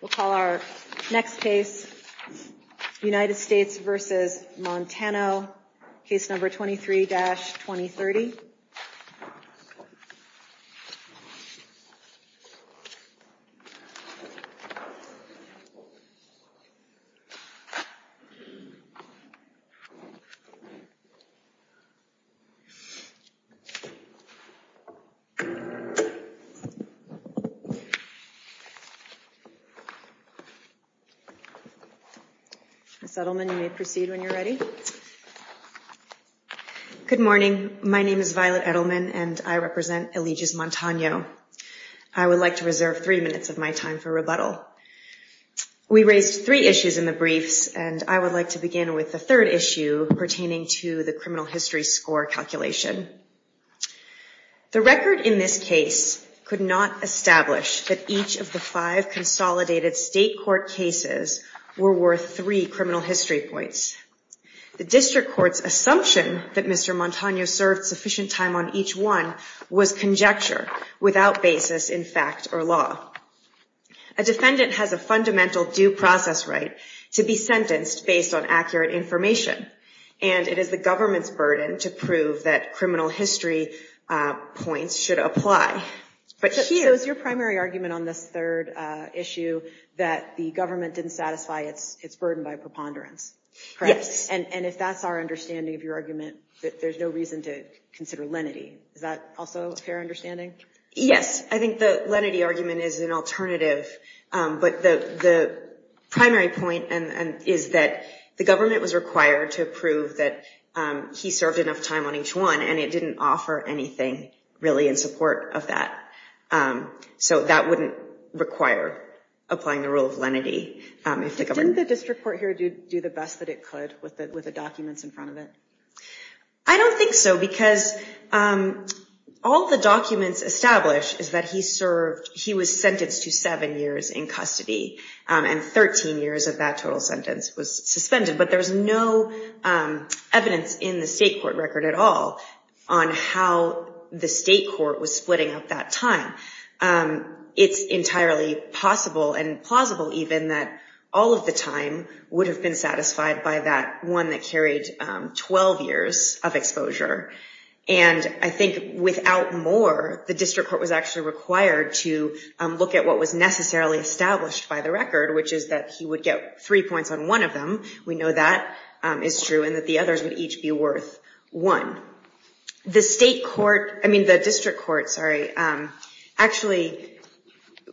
We'll call our next case United States v. Montano, case number 23-2030. Ms. Edelman, you may proceed when you're ready. Good morning. My name is Violet Edelman, and I represent Allegis Montano. I would like to reserve three minutes of my time for rebuttal. We raised three issues in the briefs, and I would like to begin with the third issue pertaining to the criminal history score calculation. The record in this case could not establish that each of the five consolidated state court cases were worth three criminal history points. The district court's assumption that Mr. Montano served sufficient time on each one was conjecture without basis in fact or law. A defendant has a fundamental due process right to be sentenced based on accurate information, and it is the government's burden to prove that criminal history points should apply. So it's your primary argument on this third issue that the government didn't satisfy its burden by preponderance, correct? Yes. And if that's our understanding of your argument, there's no reason to consider lenity. Is that also a fair understanding? Yes. I think the lenity argument is an alternative. But the primary point is that the government was required to prove that he served enough time on each one, and it didn't offer anything really in support of that. So that wouldn't require applying the rule of lenity. Didn't the district court here do the best that it could with the documents in front of it? I don't think so because all the documents established is that he served, he was sentenced to seven years in custody and 13 years of that total sentence was suspended. But there's no evidence in the state court record at all on how the state court was splitting up that time. It's entirely possible and plausible even that all of the time would have been satisfied by that one that carried 12 years of exposure. And I think without more, the district court was actually required to look at what was necessarily established by the record, which is that he would get three points on one of them. We know that is true and that the others would each be worth one. The district court actually,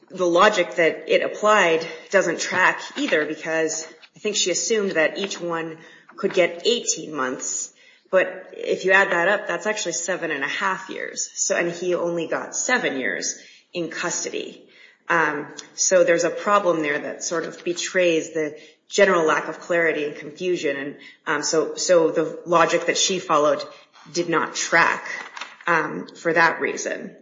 the logic that it applied doesn't track either because I think she assumed that each one could get 18 months. But if you add that up, that's actually seven and a half years. And he only got seven years in custody. So there's a problem there that sort of betrays the general lack of clarity and confusion. So the logic that she followed did not track for that reason.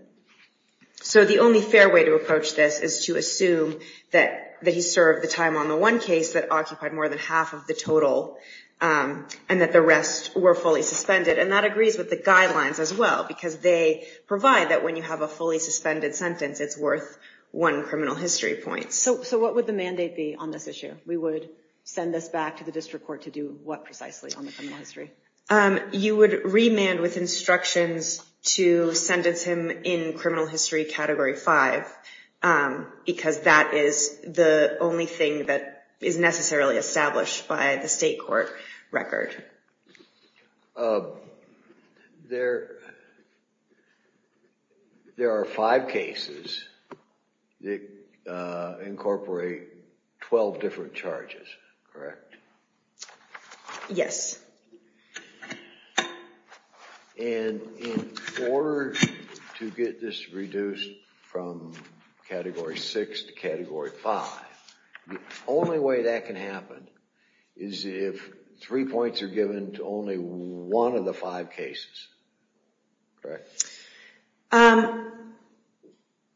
So the only fair way to approach this is to assume that he served the time on the one case that occupied more than half of the total and that the rest were fully suspended. And that agrees with the guidelines as well because they provide that when you have a fully suspended sentence, it's worth one criminal history point. So what would the mandate be on this issue? We would send this back to the district court to do what precisely on the criminal history? You would remand with instructions to sentence him in criminal history category five because that is the only thing that is necessarily established by the state court record. Yes, sir. There are five cases that incorporate 12 different charges, correct? Yes. And in order to get this reduced from category six to category five, the only way that can happen is if three points are given to only one of the five cases, correct?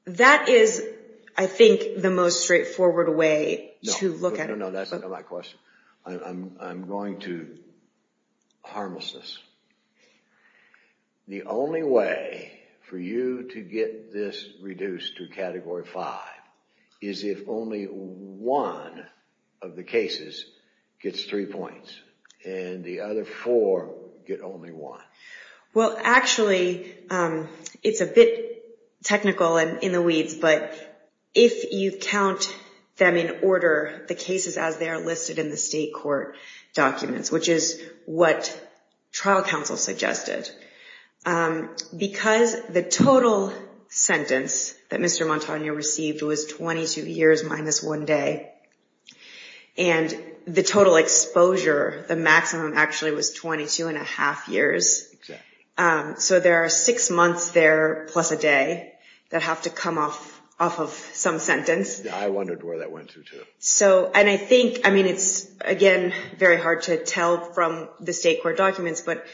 That is, I think, the most straightforward way to look at it. No, no, no, that's not my question. I'm going to harmless this. The only way for you to get this reduced to category five is if only one of the cases gets three points and the other four get only one. Well, actually, it's a bit technical in the weeds, but if you count them in order, the cases as they are listed in the state court documents, which is what trial counsel suggested, because the total sentence that Mr. Montagna received was 22 years minus one day, and the total exposure, the maximum actually was 22 and a half years. So there are six months there plus a day that have to come off of some sentence. I wondered where that went to, too. And I think, I mean, it's, again, very hard to tell from the state court documents, but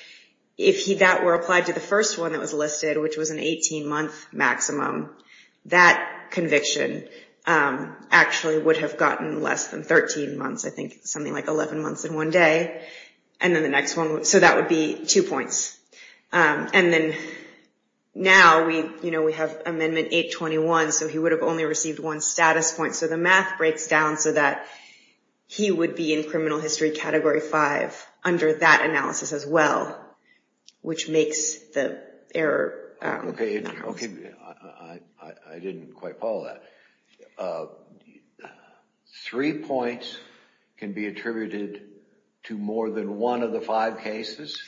if that were applied to the first one that was listed, which was an 18-month maximum, that conviction actually would have gotten less than 13 months, I think, something like 11 months in one day. So that would be two points. And then now we have Amendment 821, so he would have only received one status point. So the math breaks down so that he would be in criminal history category five under that analysis as well, which makes the error. Okay. I didn't quite follow that. Three points can be attributed to more than one of the five cases?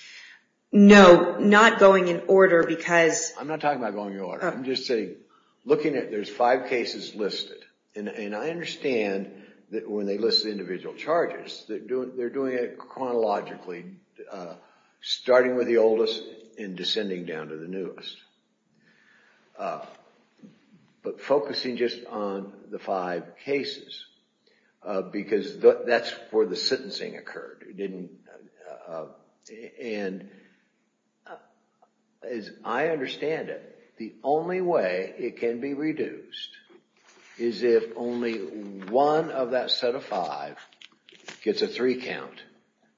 No, not going in order, because... I'm not talking about going in order. I'm just saying, looking at, there's five cases listed, and I understand that when they list the individual charges, they're doing it chronologically, starting with the oldest and descending down to the newest. But focusing just on the five cases, because that's where the sentencing occurred. And as I understand it, the only way it can be reduced is if only one of that set of five gets a three count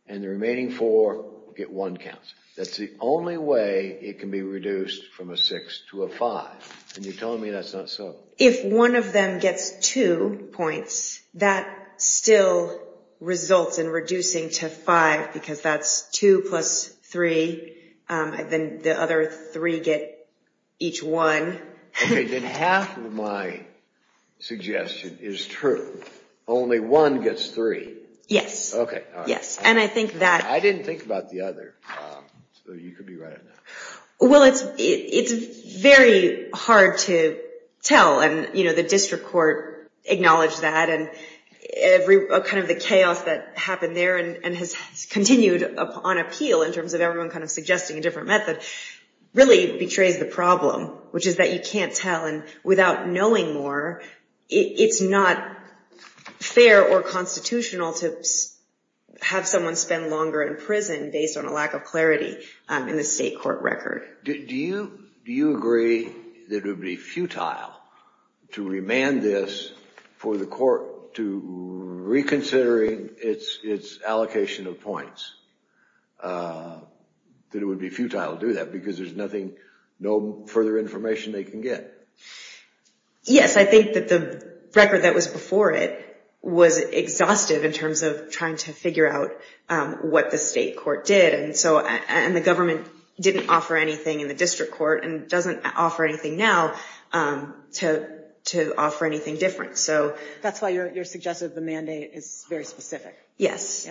and the remaining four get one count. That's the only way it can be reduced from a six to a five. And you're telling me that's not so... If one of them gets two points, that still results in reducing to five, because that's two plus three, and then the other three get each one. Okay, then half of my suggestion is true. Only one gets three. Yes. Okay, all right. Yes, and I think that... I didn't think about the other, so you could be right on that. Well, it's very hard to tell, and the district court acknowledged that, and kind of the chaos that happened there and has continued on appeal, in terms of everyone kind of suggesting a different method, really betrays the problem, which is that you can't tell, and without knowing more, it's not fair or constitutional to have someone spend longer in prison based on a lack of clarity in the state court record. Do you agree that it would be futile to remand this for the court to reconsider its allocation of points, that it would be futile to do that, because there's no further information they can get? Yes, I think that the record that was before it was exhaustive in terms of trying to figure out what the state court did, and the government didn't offer anything in the district court and doesn't offer anything now to offer anything different. That's why you're suggesting the mandate is very specific. Yes.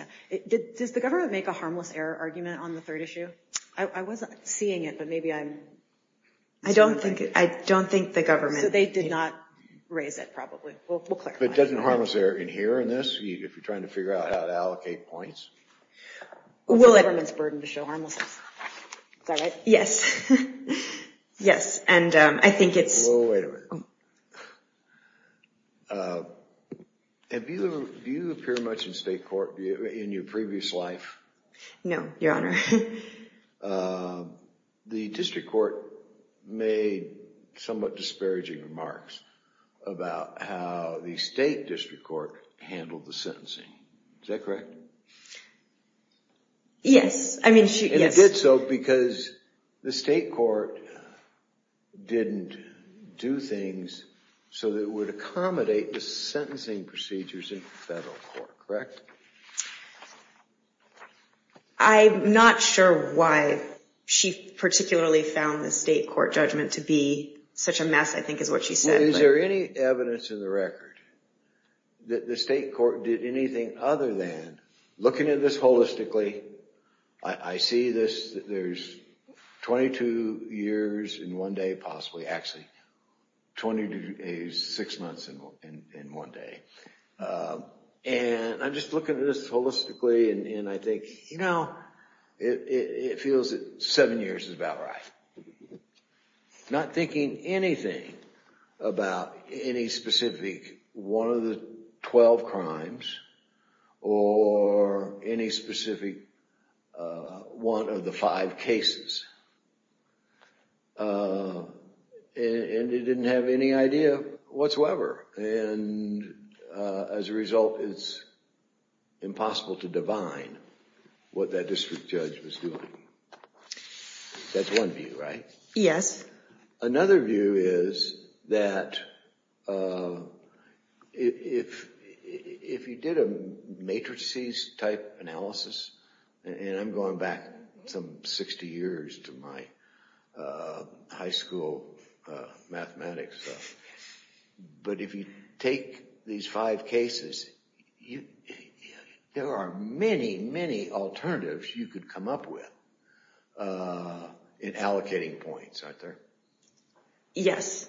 Does the government make a harmless error argument on the third issue? I wasn't seeing it, but maybe I'm... I don't think the government... So they did not raise it, probably. But doesn't a harmless error in here in this, if you're trying to figure out how to allocate points? Well, it's the government's burden to show harmlessness. Is that right? Yes. Yes, and I think it's... Wait a minute. Do you appear much in state court in your previous life? No, Your Honor. The district court made somewhat disparaging remarks about how the state district court handled the sentencing. Is that correct? Yes. And it did so because the state court didn't do things so that it would accommodate the sentencing procedures in federal court. Correct? I'm not sure why she particularly found the state court judgment to be such a mess, I think is what she said. Is there any evidence in the record that the state court did anything other than looking at this holistically, I see this, there's 22 years in one day, possibly, actually 26 months in one day, and I'm just looking at this holistically, and I think it feels that seven years is about right. Not thinking anything about any specific one of the 12 crimes or any specific one of the five cases. And it didn't have any idea whatsoever. And as a result, it's impossible to divine what that district judge was doing. That's one view, right? Yes. Another view is that if you did a matrices type analysis, and I'm going back some 60 years to my high school mathematics, but if you take these five cases, there are many, many alternatives you could come up with in allocating points, aren't there? Yes.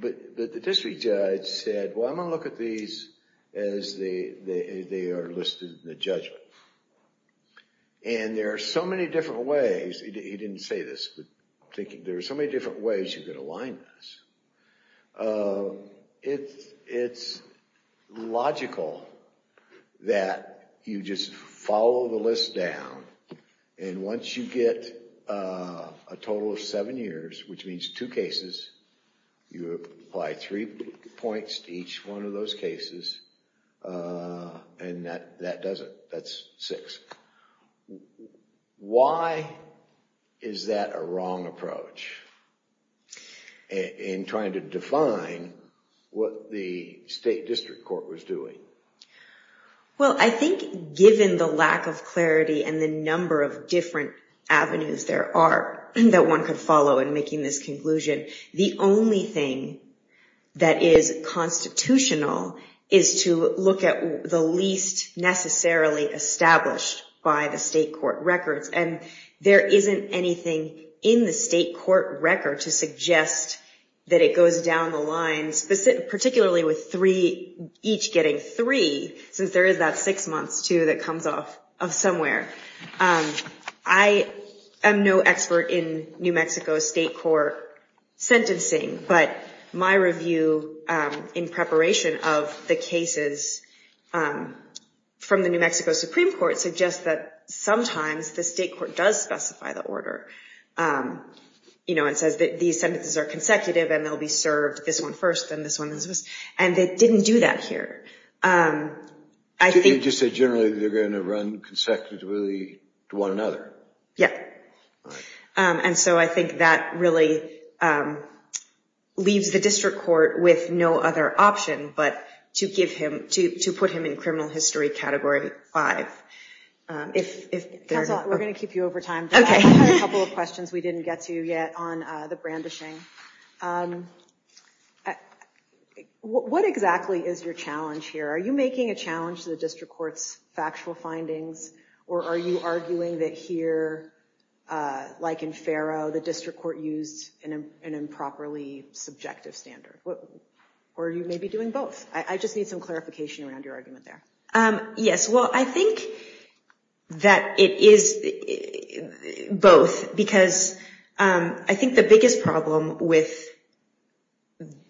But the district judge said, well, I'm going to look at these as they are listed in the judgment. And there are so many different ways, he didn't say this, but there are so many different ways you could align this. It's logical that you just follow the list down, and once you get a total of seven years, which means two cases, you apply three points to each one of those cases, and that's six. Why is that a wrong approach? In trying to define what the state district court was doing. Well, I think given the lack of clarity and the number of different avenues there are that one could follow in making this conclusion, the only thing that is constitutional is to look at the least necessarily established by the state court records, and there isn't anything in the state court record to suggest that it goes down the lines, particularly with each getting three, since there is that six months, too, that comes off of somewhere. I am no expert in New Mexico state court sentencing, but my review in preparation of the cases from the New Mexico Supreme Court suggests that sometimes the state court does specify the order. It says that these sentences are consecutive and they'll be served this one first and this one, and they didn't do that here. You just said generally they're going to run consecutively to one another. Yes. And so I think that really leaves the district court with no other option but to put him in criminal history category five. Council, we're going to keep you over time. I have a couple of questions we didn't get to yet on the brandishing. What exactly is your challenge here? Are you making a challenge to the district court's factual findings, or are you arguing that here, like in Faro, the district court used an improperly subjective standard? Or are you maybe doing both? I just need some clarification around your argument there. Yes, well, I think that it is both because I think the biggest problem with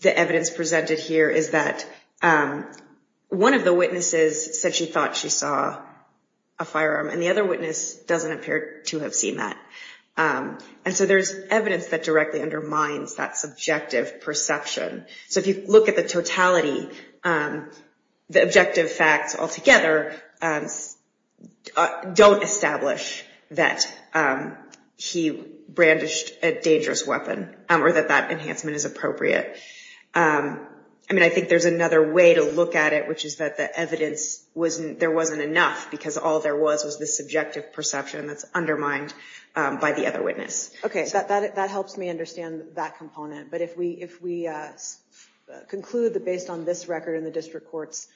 the evidence presented here is that one of the witnesses said she thought she saw a firearm and the other witness doesn't appear to have seen that. And so there's evidence that directly undermines that subjective perception. So if you look at the totality, the objective facts altogether don't establish that he brandished a dangerous weapon or that that enhancement is appropriate. I mean, I think there's another way to look at it, which is that the evidence, there wasn't enough because all there was was this subjective perception that's undermined by the other witness. Okay, that helps me understand that component. But if we conclude that based on this record in the district court's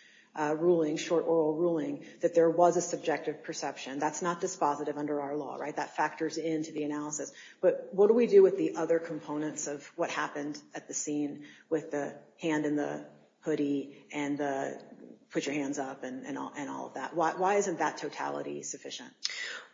ruling, short oral ruling, that there was a subjective perception, that's not dispositive under our law, right? That factors into the analysis. But what do we do with the other components of what happened at the scene with the hand in the hoodie and the put your hands up and all of that? Why isn't that totality sufficient?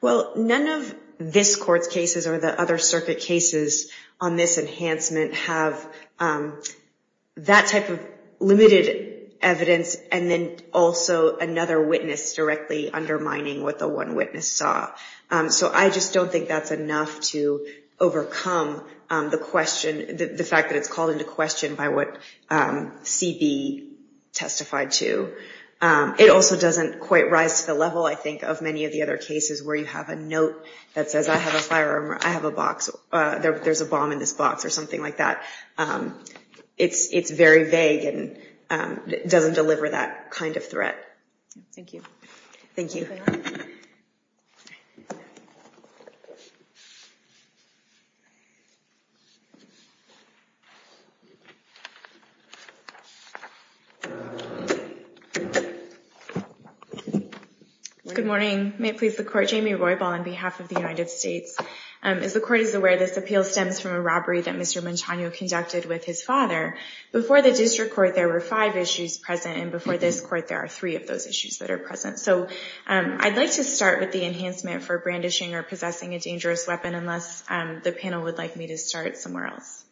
Well, none of this court's cases or the other circuit cases on this enhancement have that type of limited evidence and then also another witness directly undermining what the one witness saw. So I just don't think that's enough to overcome the question, the fact that it's called into question by what CB testified to. It also doesn't quite rise to the level, I think, of many of the other cases where you have a note that says, I have a firearm or I have a box or there's a bomb in this box or something like that. It's very vague and doesn't deliver that kind of threat. Thank you. Thank you. Thank you. Good morning. May it please the court. Jamie Roybal on behalf of the United States. As the court is aware, this appeal stems from a robbery that Mr. Montano conducted with his father. Before the district court there were five issues present and before this court there are three of those issues that are present. So I'd like to start with the enhancement for brandishing or possessing a dangerous weapon, unless the panel would like me to start somewhere else.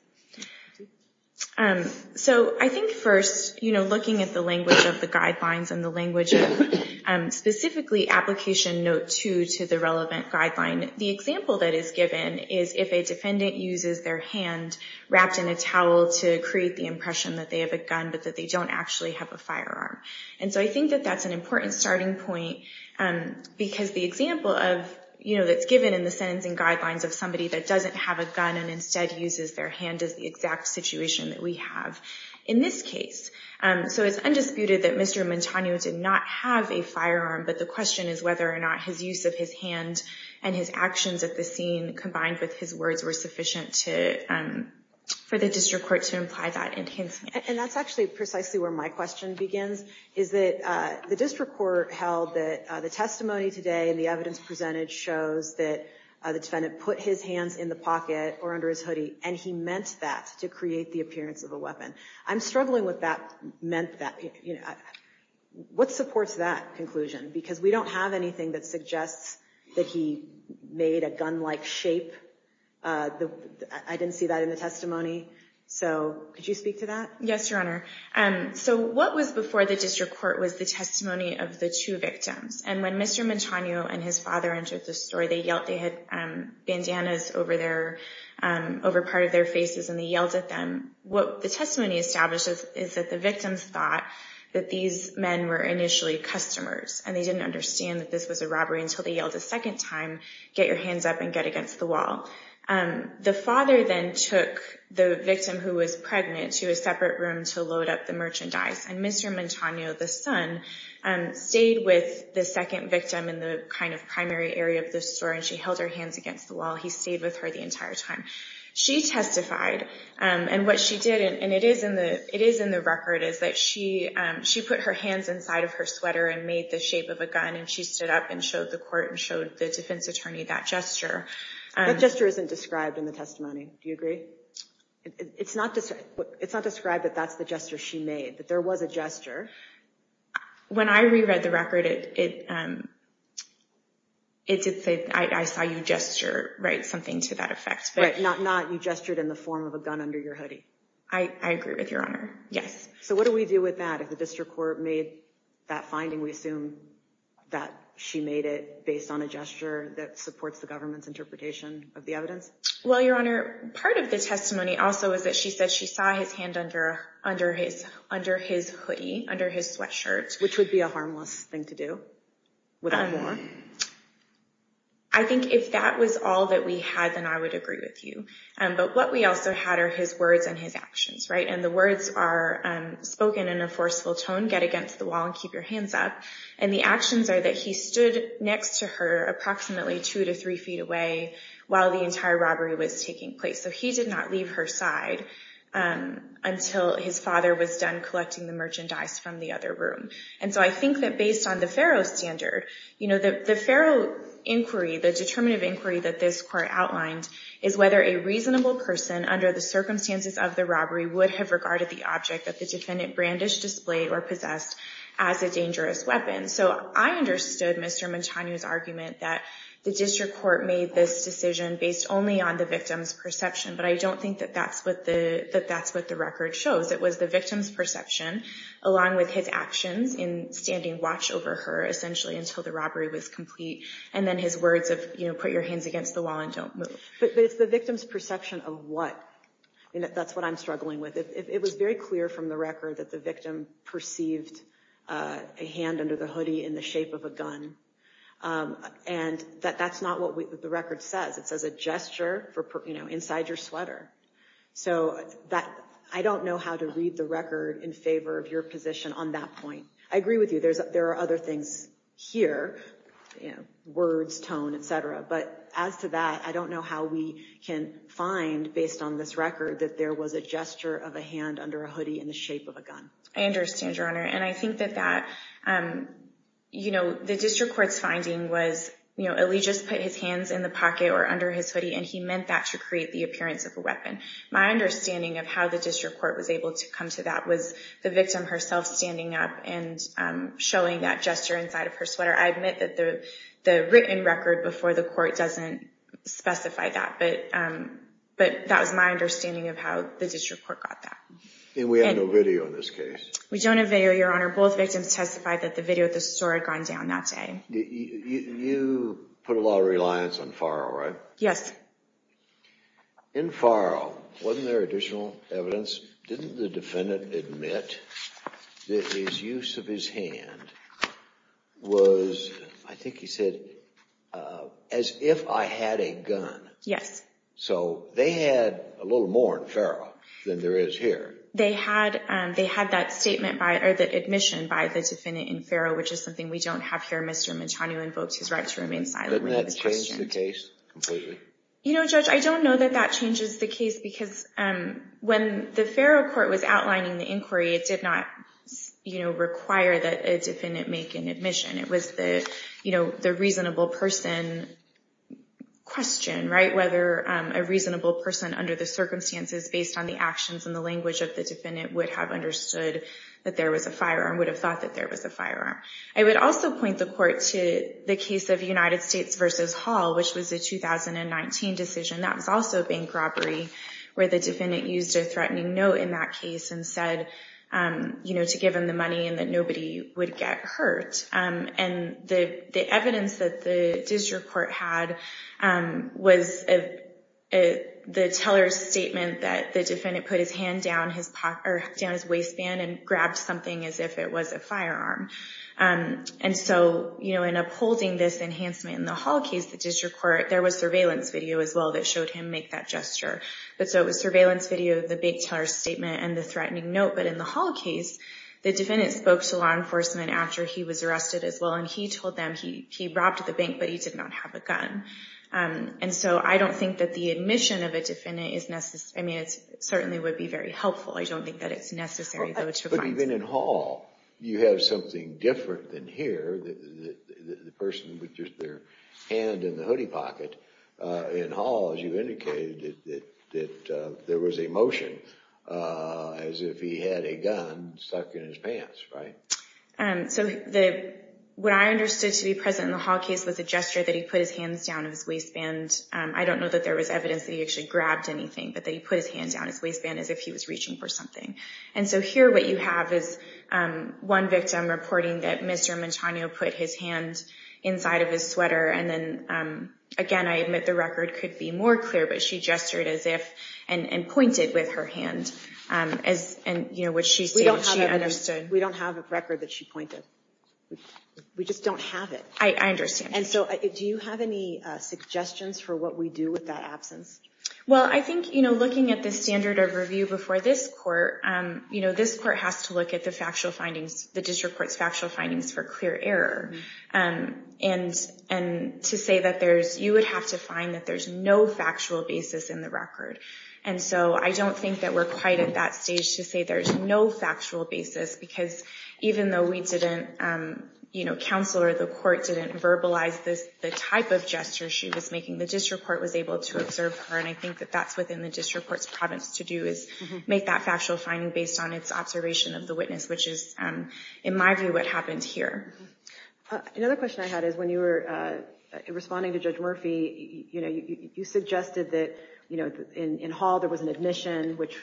So I think first, looking at the language of the guidelines and the language of specifically Application Note 2 to the relevant guideline, the example that is given is if a defendant uses their hand wrapped in a towel to create the impression that they have a gun but that they don't actually have a firearm. And so I think that that's an important starting point because the example that's given in the sentencing guidelines of somebody that doesn't have a gun and instead uses their hand is the exact situation that we have in this case. So it's undisputed that Mr. Montano did not have a firearm, but the question is whether or not his use of his hand and his actions at the scene combined with his words were sufficient for the district court to imply that enhancement. And that's actually precisely where my question begins, is that the district court held that the testimony today and the evidence presented shows that the defendant put his hands in the pocket or under his hoodie and he meant that to create the appearance of a weapon. I'm struggling with what supports that conclusion because we don't have anything that suggests that he made a gun-like shape. I didn't see that in the testimony. So could you speak to that? Yes, Your Honor. So what was before the district court was the testimony of the two victims. And when Mr. Montano and his father entered the story, they had bandanas over part of their faces and they yelled at them. What the testimony establishes is that the victims thought that these men were initially customers and they didn't understand that this was a robbery until they yelled a second time, get your hands up and get against the wall. The father then took the victim who was pregnant to a separate room to load up the merchandise. And Mr. Montano, the son, stayed with the second victim in the kind of primary area of the store and she held her hands against the wall. He stayed with her the entire time. She testified and what she did, and it is in the record, is that she put her hands inside of her sweater and made the shape of a gun and she stood up and showed the court and showed the defense attorney that gesture. That gesture isn't described in the testimony. Do you agree? It's not described that that's the gesture she made, that there was a gesture. When I reread the record, it did say I saw you gesture, right, something to that effect. Right, not you gestured in the form of a gun under your hoodie. I agree with Your Honor, yes. So what do we do with that? If the district court made that finding, we assume that she made it based on a gesture that supports the government's interpretation of the evidence? Well, Your Honor, part of the testimony also is that she said she saw his hand under his hoodie, under his sweatshirt. Which would be a harmless thing to do, without war. I think if that was all that we had, then I would agree with you. But what we also had are his words and his actions, right, and the words are spoken in a forceful tone, get against the wall and keep your hands up, and the actions are that he stood next to her, approximately two to three feet away, while the entire robbery was taking place. So he did not leave her side until his father was done collecting the merchandise from the other room. And so I think that based on the Faro standard, the Faro inquiry, the determinative inquiry that this court outlined, is whether a reasonable person, under the circumstances of the robbery, would have regarded the object that the defendant brandished, displayed, or possessed as a dangerous weapon. So I understood Mr. Montano's argument that the district court made this decision based only on the victim's perception, but I don't think that that's what the record shows. It was the victim's perception, along with his actions in standing watch over her, essentially, until the robbery was complete, and then his words of put your hands against the wall and don't move. But it's the victim's perception of what? That's what I'm struggling with. It was very clear from the record that the victim perceived a hand under the hoodie in the shape of a gun. And that's not what the record says. It says a gesture inside your sweater. So I don't know how to read the record in favor of your position on that point. I agree with you. There are other things here, words, tone, et cetera. But as to that, I don't know how we can find, based on this record, that there was a gesture of a hand under a hoodie in the shape of a gun. I understand, Your Honor. And I think that that, you know, the district court's finding was, you know, Elijah just put his hands in the pocket or under his hoodie, and he meant that to create the appearance of a weapon. My understanding of how the district court was able to come to that was the victim herself standing up and showing that gesture inside of her sweater. I admit that the written record before the court doesn't specify that. But that was my understanding of how the district court got that. And we have no video in this case. We don't have video, Your Honor. Both victims testified that the video at the store had gone down that day. You put a lot of reliance on Farrell, right? Yes. In Farrell, wasn't there additional evidence? Didn't the defendant admit that his use of his hand was, I think he said, as if I had a gun? Yes. So they had a little more in Farrell than there is here. They had that statement by, or the admission by the defendant in Farrell, which is something we don't have here. Mr. Mancini invoked his right to remain silent. Didn't that change the case completely? You know, Judge, I don't know that that changes the case because when the Farrell court was outlining the inquiry, it did not, you know, require that a defendant make an admission. It was the, you know, the reasonable person question, right? Whether a reasonable person under the circumstances, based on the actions and the language of the defendant, would have understood that there was a firearm, would have thought that there was a firearm. I would also point the court to the case of United States versus Hall, which was a 2019 decision. That was also a bank robbery where the defendant used a threatening note in that case and said, you know, to give him the money and that nobody would get hurt. And the evidence that the district court had was the teller's statement that the defendant put his hand down his waistband and grabbed something as if it was a firearm. And so, you know, in upholding this enhancement in the Hall case, the district court, there was surveillance video as well that showed him make that gesture. But so it was surveillance video, the big teller's statement and the threatening note. But in the Hall case, the defendant spoke to law enforcement after he was arrested as well. And he told them he robbed the bank, but he did not have a gun. And so I don't think that the admission of a defendant is necessary. I mean, it certainly would be very helpful. I don't think that it's necessary. But even in Hall, you have something different than here. The person with just their hand in the hoodie pocket in Hall, that there was a motion as if he had a gun, stuck in his pants, right? So what I understood to be present in the Hall case was a gesture that he put his hands down his waistband. I don't know that there was evidence that he actually grabbed anything, but that he put his hand down his waistband as if he was reaching for something. And so here what you have is one victim reporting that Mr. Montano put his hand inside of his sweater. And then again, I admit the record could be more clear, but she gestured as if and pointed with her hand as, you know, what she said she understood. We don't have a record that she pointed. We just don't have it. I understand. And so do you have any suggestions for what we do with that absence? Well, I think, you know, looking at the standard of review before this court, you know, this court has to look at the factual findings, the district court's factual findings for clear error. And to say that there's, you would have to find that there's no factual basis in the record. And so I don't think that we're quite at that stage to say there's no factual basis because even though we didn't, you know, counsel or the court didn't verbalize this, the type of gesture she was making, the district court was able to observe her. And I think that that's within the district court's province to do is make that factual finding based on its observation of the witness, which is in my view, what happened here. Another question I had is when you were responding to Judge Murphy, you know, you suggested that, you know, in hall, there was an admission, which,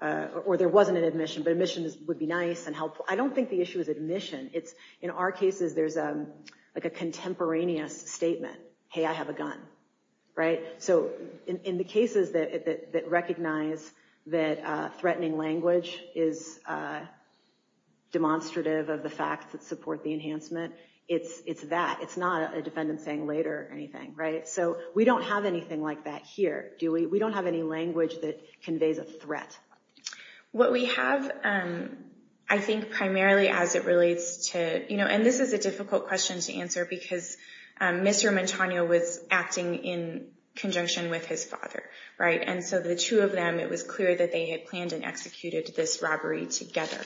or there wasn't an admission, but admissions would be nice and helpful. I don't think the issue is admission. It's in our cases, there's like a contemporaneous statement. Hey, I have a gun. Right. So in the cases that recognize that threatening language is demonstrative of the facts that support the enhancement, it's, it's that, it's not a defendant saying later or anything. Right. So we don't have anything like that here, do we? We don't have any language that conveys a threat. What we have, I think primarily as it relates to, you know, and this is a difficult question to answer because Mr. Montano was acting in conjunction with his father. Right. And so the two of them, it was clear that they had planned and executed this robbery together.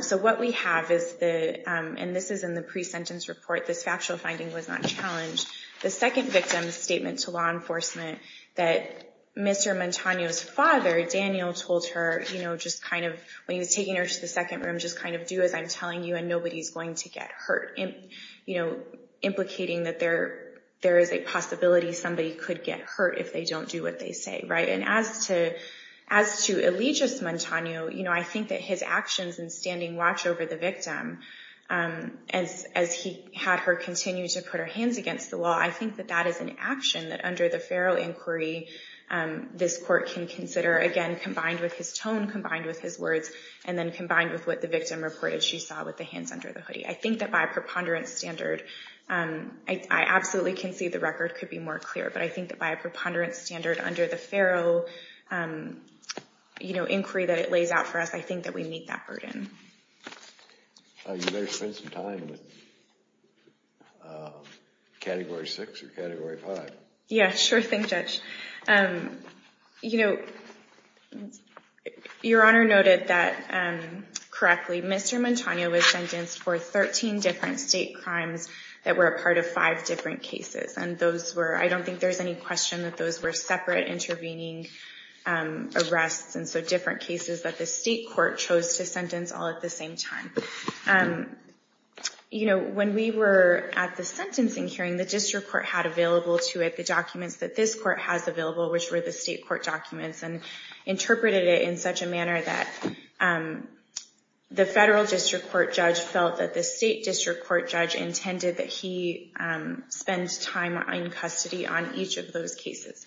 So what we have is the, and this is in the pre-sentence report, this factual finding was not challenged. The second victim's statement to law enforcement that Mr. Montano's father, Daniel told her, you know, just kind of, when he was taking her to the second room, just kind of do as I'm telling you and nobody's going to get hurt in, you know, implicating that there there is a possibility somebody could get hurt if they don't do what they say. Right. And as to, as to elegious Montano, you know, I think that his actions and standing watch over the victim as, as he had her continue to put her hands against the wall. I think that that is an action that under the Pharaoh inquiry, this court can consider again, combined with his tone, combined with his words and then combined with what the victim reported. She saw with the hands under the hoodie. I think that by a preponderance standard, I absolutely can see the record could be more clear, but I think that by a preponderance standard under the Pharaoh, you know, inquiry that it lays out for us, I think that we meet that burden. You better spend some time with category six or category five. Yeah, sure. Thanks judge. You know, your honor noted that correctly, Mr Montano was sentenced for 13 different state crimes that were a part of five different cases. And those were, I don't think there's any question that those were separate intervening arrests. And so different cases that the state court chose to sentence all at the same time. You know, when we were at the sentencing hearing, the district court had available to it, the documents that this court has, the billable, which were the state court documents and interpreted it in such a manner that the federal district court judge felt that the state district court judge intended that he spends time in custody on each of those cases.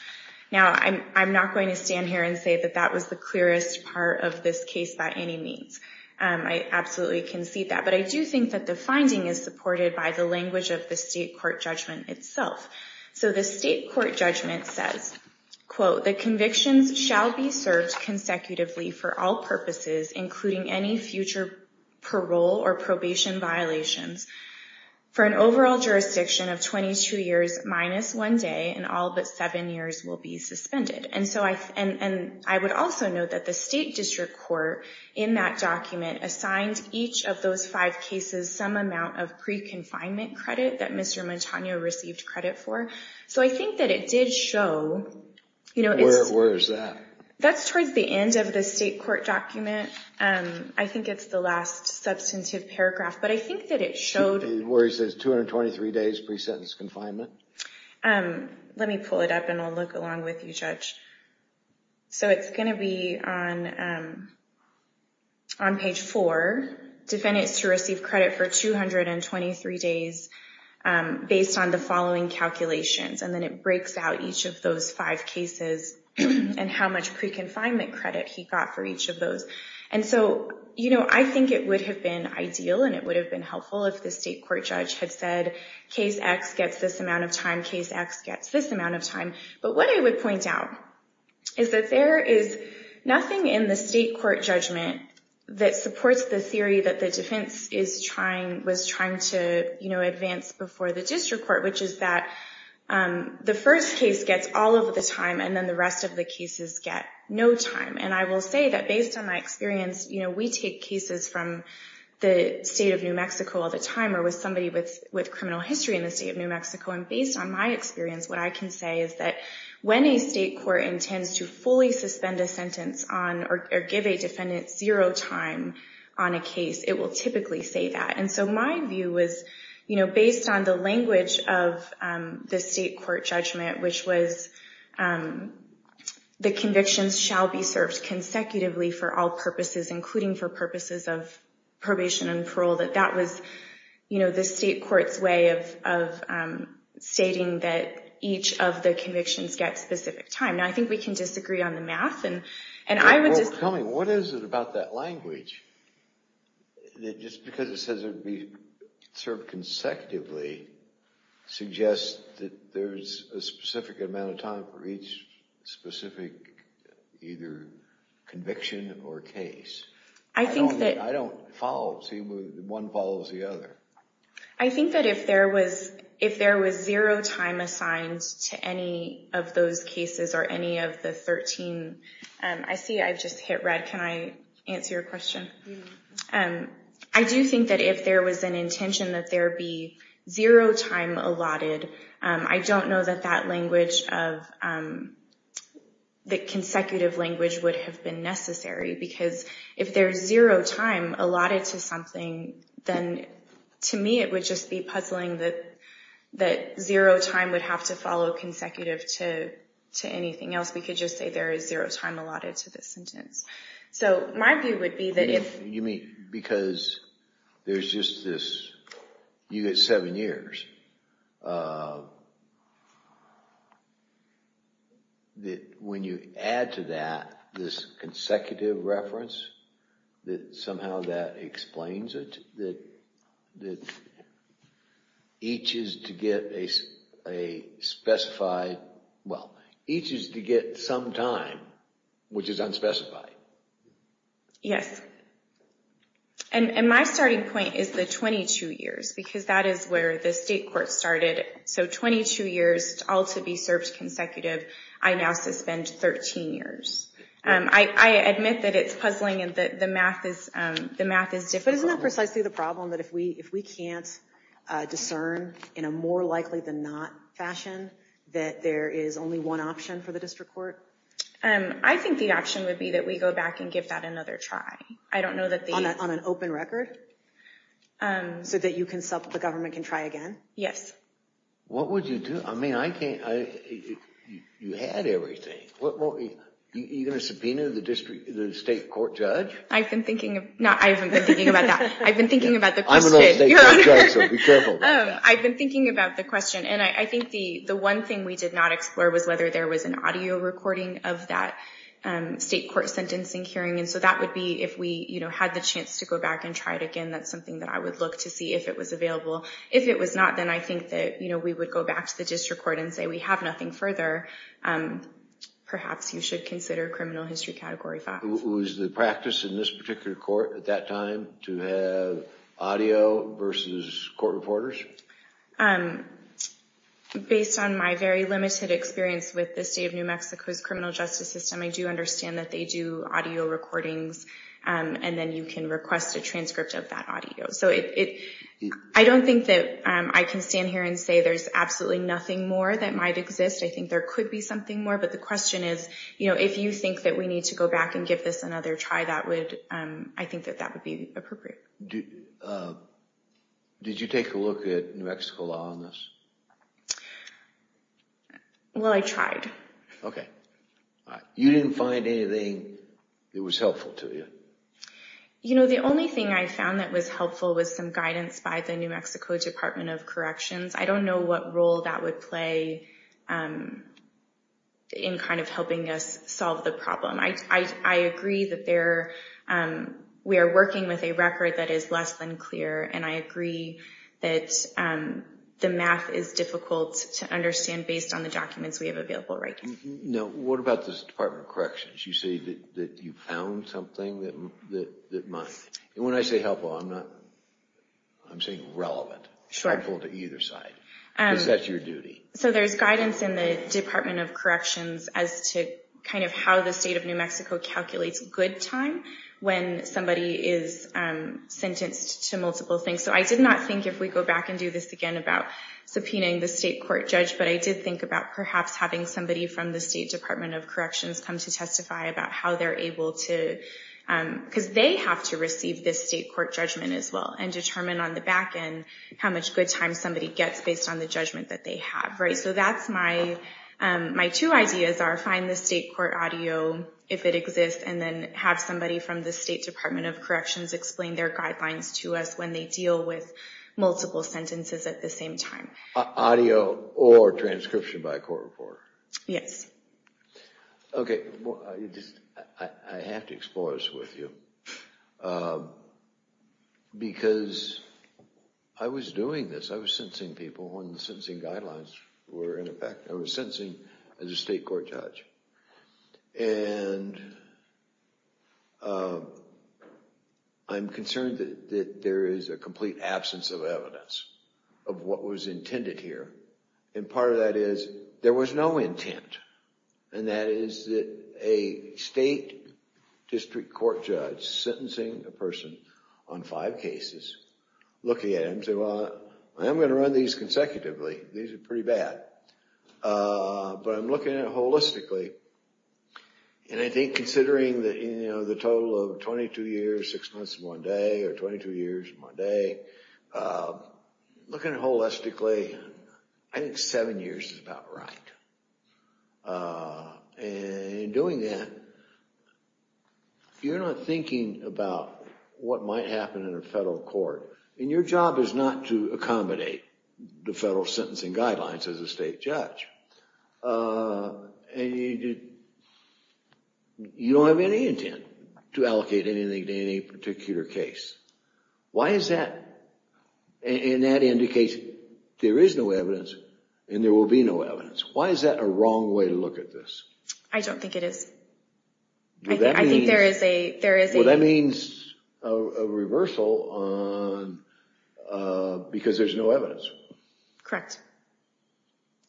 Now I'm, I'm not going to stand here and say that that was the clearest part of this case by any means. I absolutely concede that. But I do think that the finding is supported by the language of the state court judgment itself. So the state court judgment says, quote, the convictions shall be served consecutively for all purposes, including any future parole or probation violations for an overall jurisdiction of 22 years minus one day and all but seven years will be suspended. And so I, and I would also note that the state district court in that document assigned each of those five cases, some amount of pre-confinement credit that Mr. Montano received credit for. So I think that it did show, you know, that's towards the end of the state court document. I think it's the last substantive paragraph, but I think that it showed, where he says 223 days pre-sentence confinement. Let me pull it up and I'll look along with you judge. So it's going to be on, um, on page four defendants to receive credit for 223 days, um, based on the following calculations. And then it breaks out each of those five cases and how much pre-confinement credit he got for each of those. And so, you know, I think it would have been ideal and it would have been helpful if the state court judge had said case X gets this amount of time case X gets this amount of time. But what I would point out is that there is nothing in the state court judgment that supports the theory that the defense is trying, was trying to, you know, advance before the district court, which is that, um, the first case gets all of the time and then the rest of the cases get no time. And I will say that based on my experience, you know, we take cases from the state of New Mexico all the time, or with somebody with, with criminal history in the state of New Mexico. And based on my experience, what I can say is that when a state court intends to fully suspend a sentence on or give a defendant zero time on a case, it will typically say that. And so my view was, you know, based on the language of the state court judgment, which was, um, the convictions shall be served consecutively for all purposes, including for purposes of probation and parole, that that was, you know, the state court's way of, of, um, stating that each of the convictions get specific time. Now I think we can disagree on the math and, and I would just. Tell me, what is it about that language? That just because it says it would be served consecutively suggests that there's a specific amount of time for each specific, either conviction or case. I think that. I don't follow. See, one follows the other. I think that if there was, if there was zero time assigned to any of those cases or any of the 13, um, I see, I've just hit red. Can I answer your question? Um, I do think that if there was an intention that there be zero time allotted, um, I don't know that that language of, um, the consecutive language would have been necessary because if there's zero time allotted to something, then to me, it would just be puzzling that that zero time would have to follow consecutive to, to anything else. We could just say there is zero time allotted to this sentence. So my view would be that if. You mean because there's just this, you get seven years, uh, that when you add to that, this consecutive reference that somehow that explains it, that, that each is to get a, a specified. Well, each is to get some time, which is unspecified. Yes. And, and my starting point is the 22 years because that is where the state court started. So 22 years all to be served consecutive. I now suspend 13 years. Um, I, I admit that it's puzzling and that the math is, um, the math is different. Isn't that precisely the problem that if we, if we can't, uh, discern in a more likely than not fashion, that there is only one option for the district court? Um, I think the option would be that we go back and give that another try. I don't know that. On an open record. Um, so that you can sell the government can try again. Yes. What would you do? I mean, I can't, I, you had everything. You're going to subpoena the district, the state court judge. I've been thinking of not, I haven't been thinking about that. I've been thinking about the question. Um, I've been thinking about the question and I think the, the one thing we did not explore was whether there was an audio recording of that, um, state court sentencing hearing. And so that would be if we, you know, had the chance to go back and try it again. That's something that I would look to see if it was available. If it was not, then I think that, you know, we would go back to the district court and say we have nothing further. Um, perhaps you should consider criminal history category. Was the practice in this particular court at that time to have audio versus court reporters? Um, based on my very limited experience with the state of New Mexico's criminal justice system, I do understand that they do audio recordings. Um, and then you can request a transcript of that audio. So it, it, I don't think that, um, I can stand here and say there's absolutely nothing more that might exist. I think there could be something more, but the question is, you know, if you think that we need to go back and give this another try, that would, um, I think that that would be appropriate. Did you take a look at New Mexico law on this? Well, I tried. Okay. You didn't find anything that was helpful to you? You know, the only thing I found that was helpful was some guidance by the New Mexico Department of Corrections. I don't know what role that would play, um, in kind of helping us solve the problem. I, I, I agree that there, um, we are working with a record that is less than clear. And I agree that, um, the math is difficult to understand based on the documents we have available. Right. Now, what about this Department of Corrections? You say that you found something that, that, that might. And when I say helpful, I'm not, I'm saying relevant, helpful to either side. Um, so there's guidance in the Department of Corrections as to kind of how the state of New Mexico calculates good time when somebody is, um, sentenced to multiple things. So I did not think if we go back and do this again about subpoenaing the state court judge, but I did think about perhaps having somebody from the State Department of Corrections identify about how they're able to, um, because they have to receive this state court judgment as well and determine on the back end how much good time somebody gets based on the judgment that they have. Right. So that's my, um, my two ideas are find the state court audio if it exists and then have somebody from the State Department of Corrections explain their guidelines to us when they deal with multiple sentences at the same time. Audio or transcription by a court reporter? Yes. Okay. Well, I have to explore this with you, um, because I was doing this. I was sentencing people when the sentencing guidelines were in effect. I was sentencing as a state court judge and, um, I'm concerned that there is a complete absence of evidence of what was intended here. And part of that is there was no intent. And that is that a state district court judge sentencing a person on five cases looking at him and say, well, I'm going to run these consecutively. These are pretty bad. Uh, but I'm looking at it holistically. And I think considering that, you know, the total of 22 years, six months, one day, or 22 years, one day, uh, looking at it holistically, I think seven years is about right. Uh, and in doing that, you're not thinking about what might happen in a federal court. And your job is not to accommodate the federal sentencing guidelines as a state judge. Uh, and you, you don't have any intent to allocate anything to any particular case. Why is that? And that indicates there is no evidence and there will be no evidence. Why is that a wrong way to look at this? I don't think it is. I think there is a, there is a. Well, that means a reversal on, uh, because there's no evidence. Correct.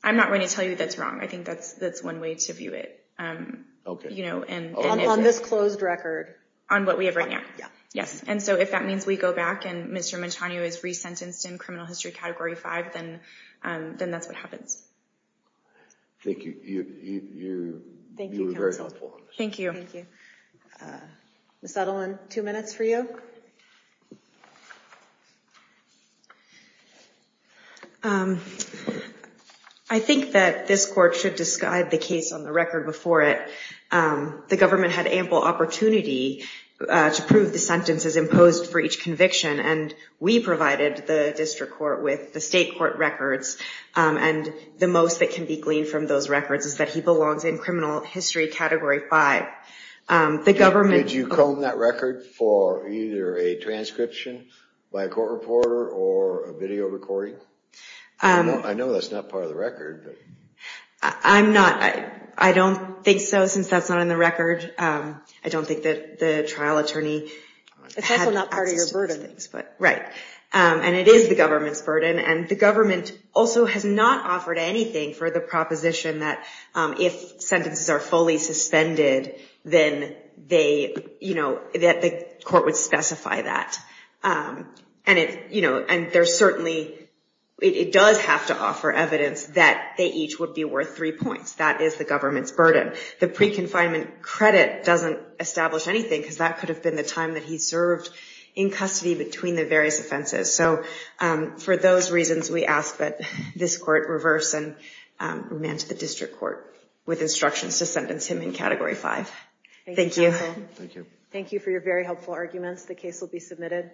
I'm not going to tell you that's wrong. I think that's, that's one way to view it. Um, you know, and. On this closed record. On what we have right now. Yes. And so if that means we go back and Mr. Montano is resentenced in criminal history category five, then, um, then that's what happens. Thank you. You, you, you were very helpful. Thank you. Uh, Ms. Edelman, two minutes for you. Um, I think that this court should describe the case on the record before it. Um, the government had ample opportunity, uh, to prove the sentences imposed for each conviction and we provided the district court with the state court records. Um, and the most that can be gleaned from those records is that he belongs in criminal history category five. Um, the government. Did you comb that record for either a transcription by a court reporter or a video recording? Um, I know that's not part of the record. I'm not, I, I don't think so since that's not in the record. Um, I don't think that the trial attorney. Um, and it is the government's burden and the government also has not offered anything for the proposition that, um, if sentences are fully suspended, then they, you know, that the court would specify that. Um, and it, you know, and there's certainly, it does have to offer evidence that they each would be worth three points. That is the government's burden. The pre-confinement credit doesn't establish anything because that could have been the time that he served in custody between the various offenses. So, um, for those reasons, we ask that this court reverse and, um, remand to the district court with instructions to sentence him in category five. Thank you. Thank you. Thank you for your very helpful arguments. The case will be submitted.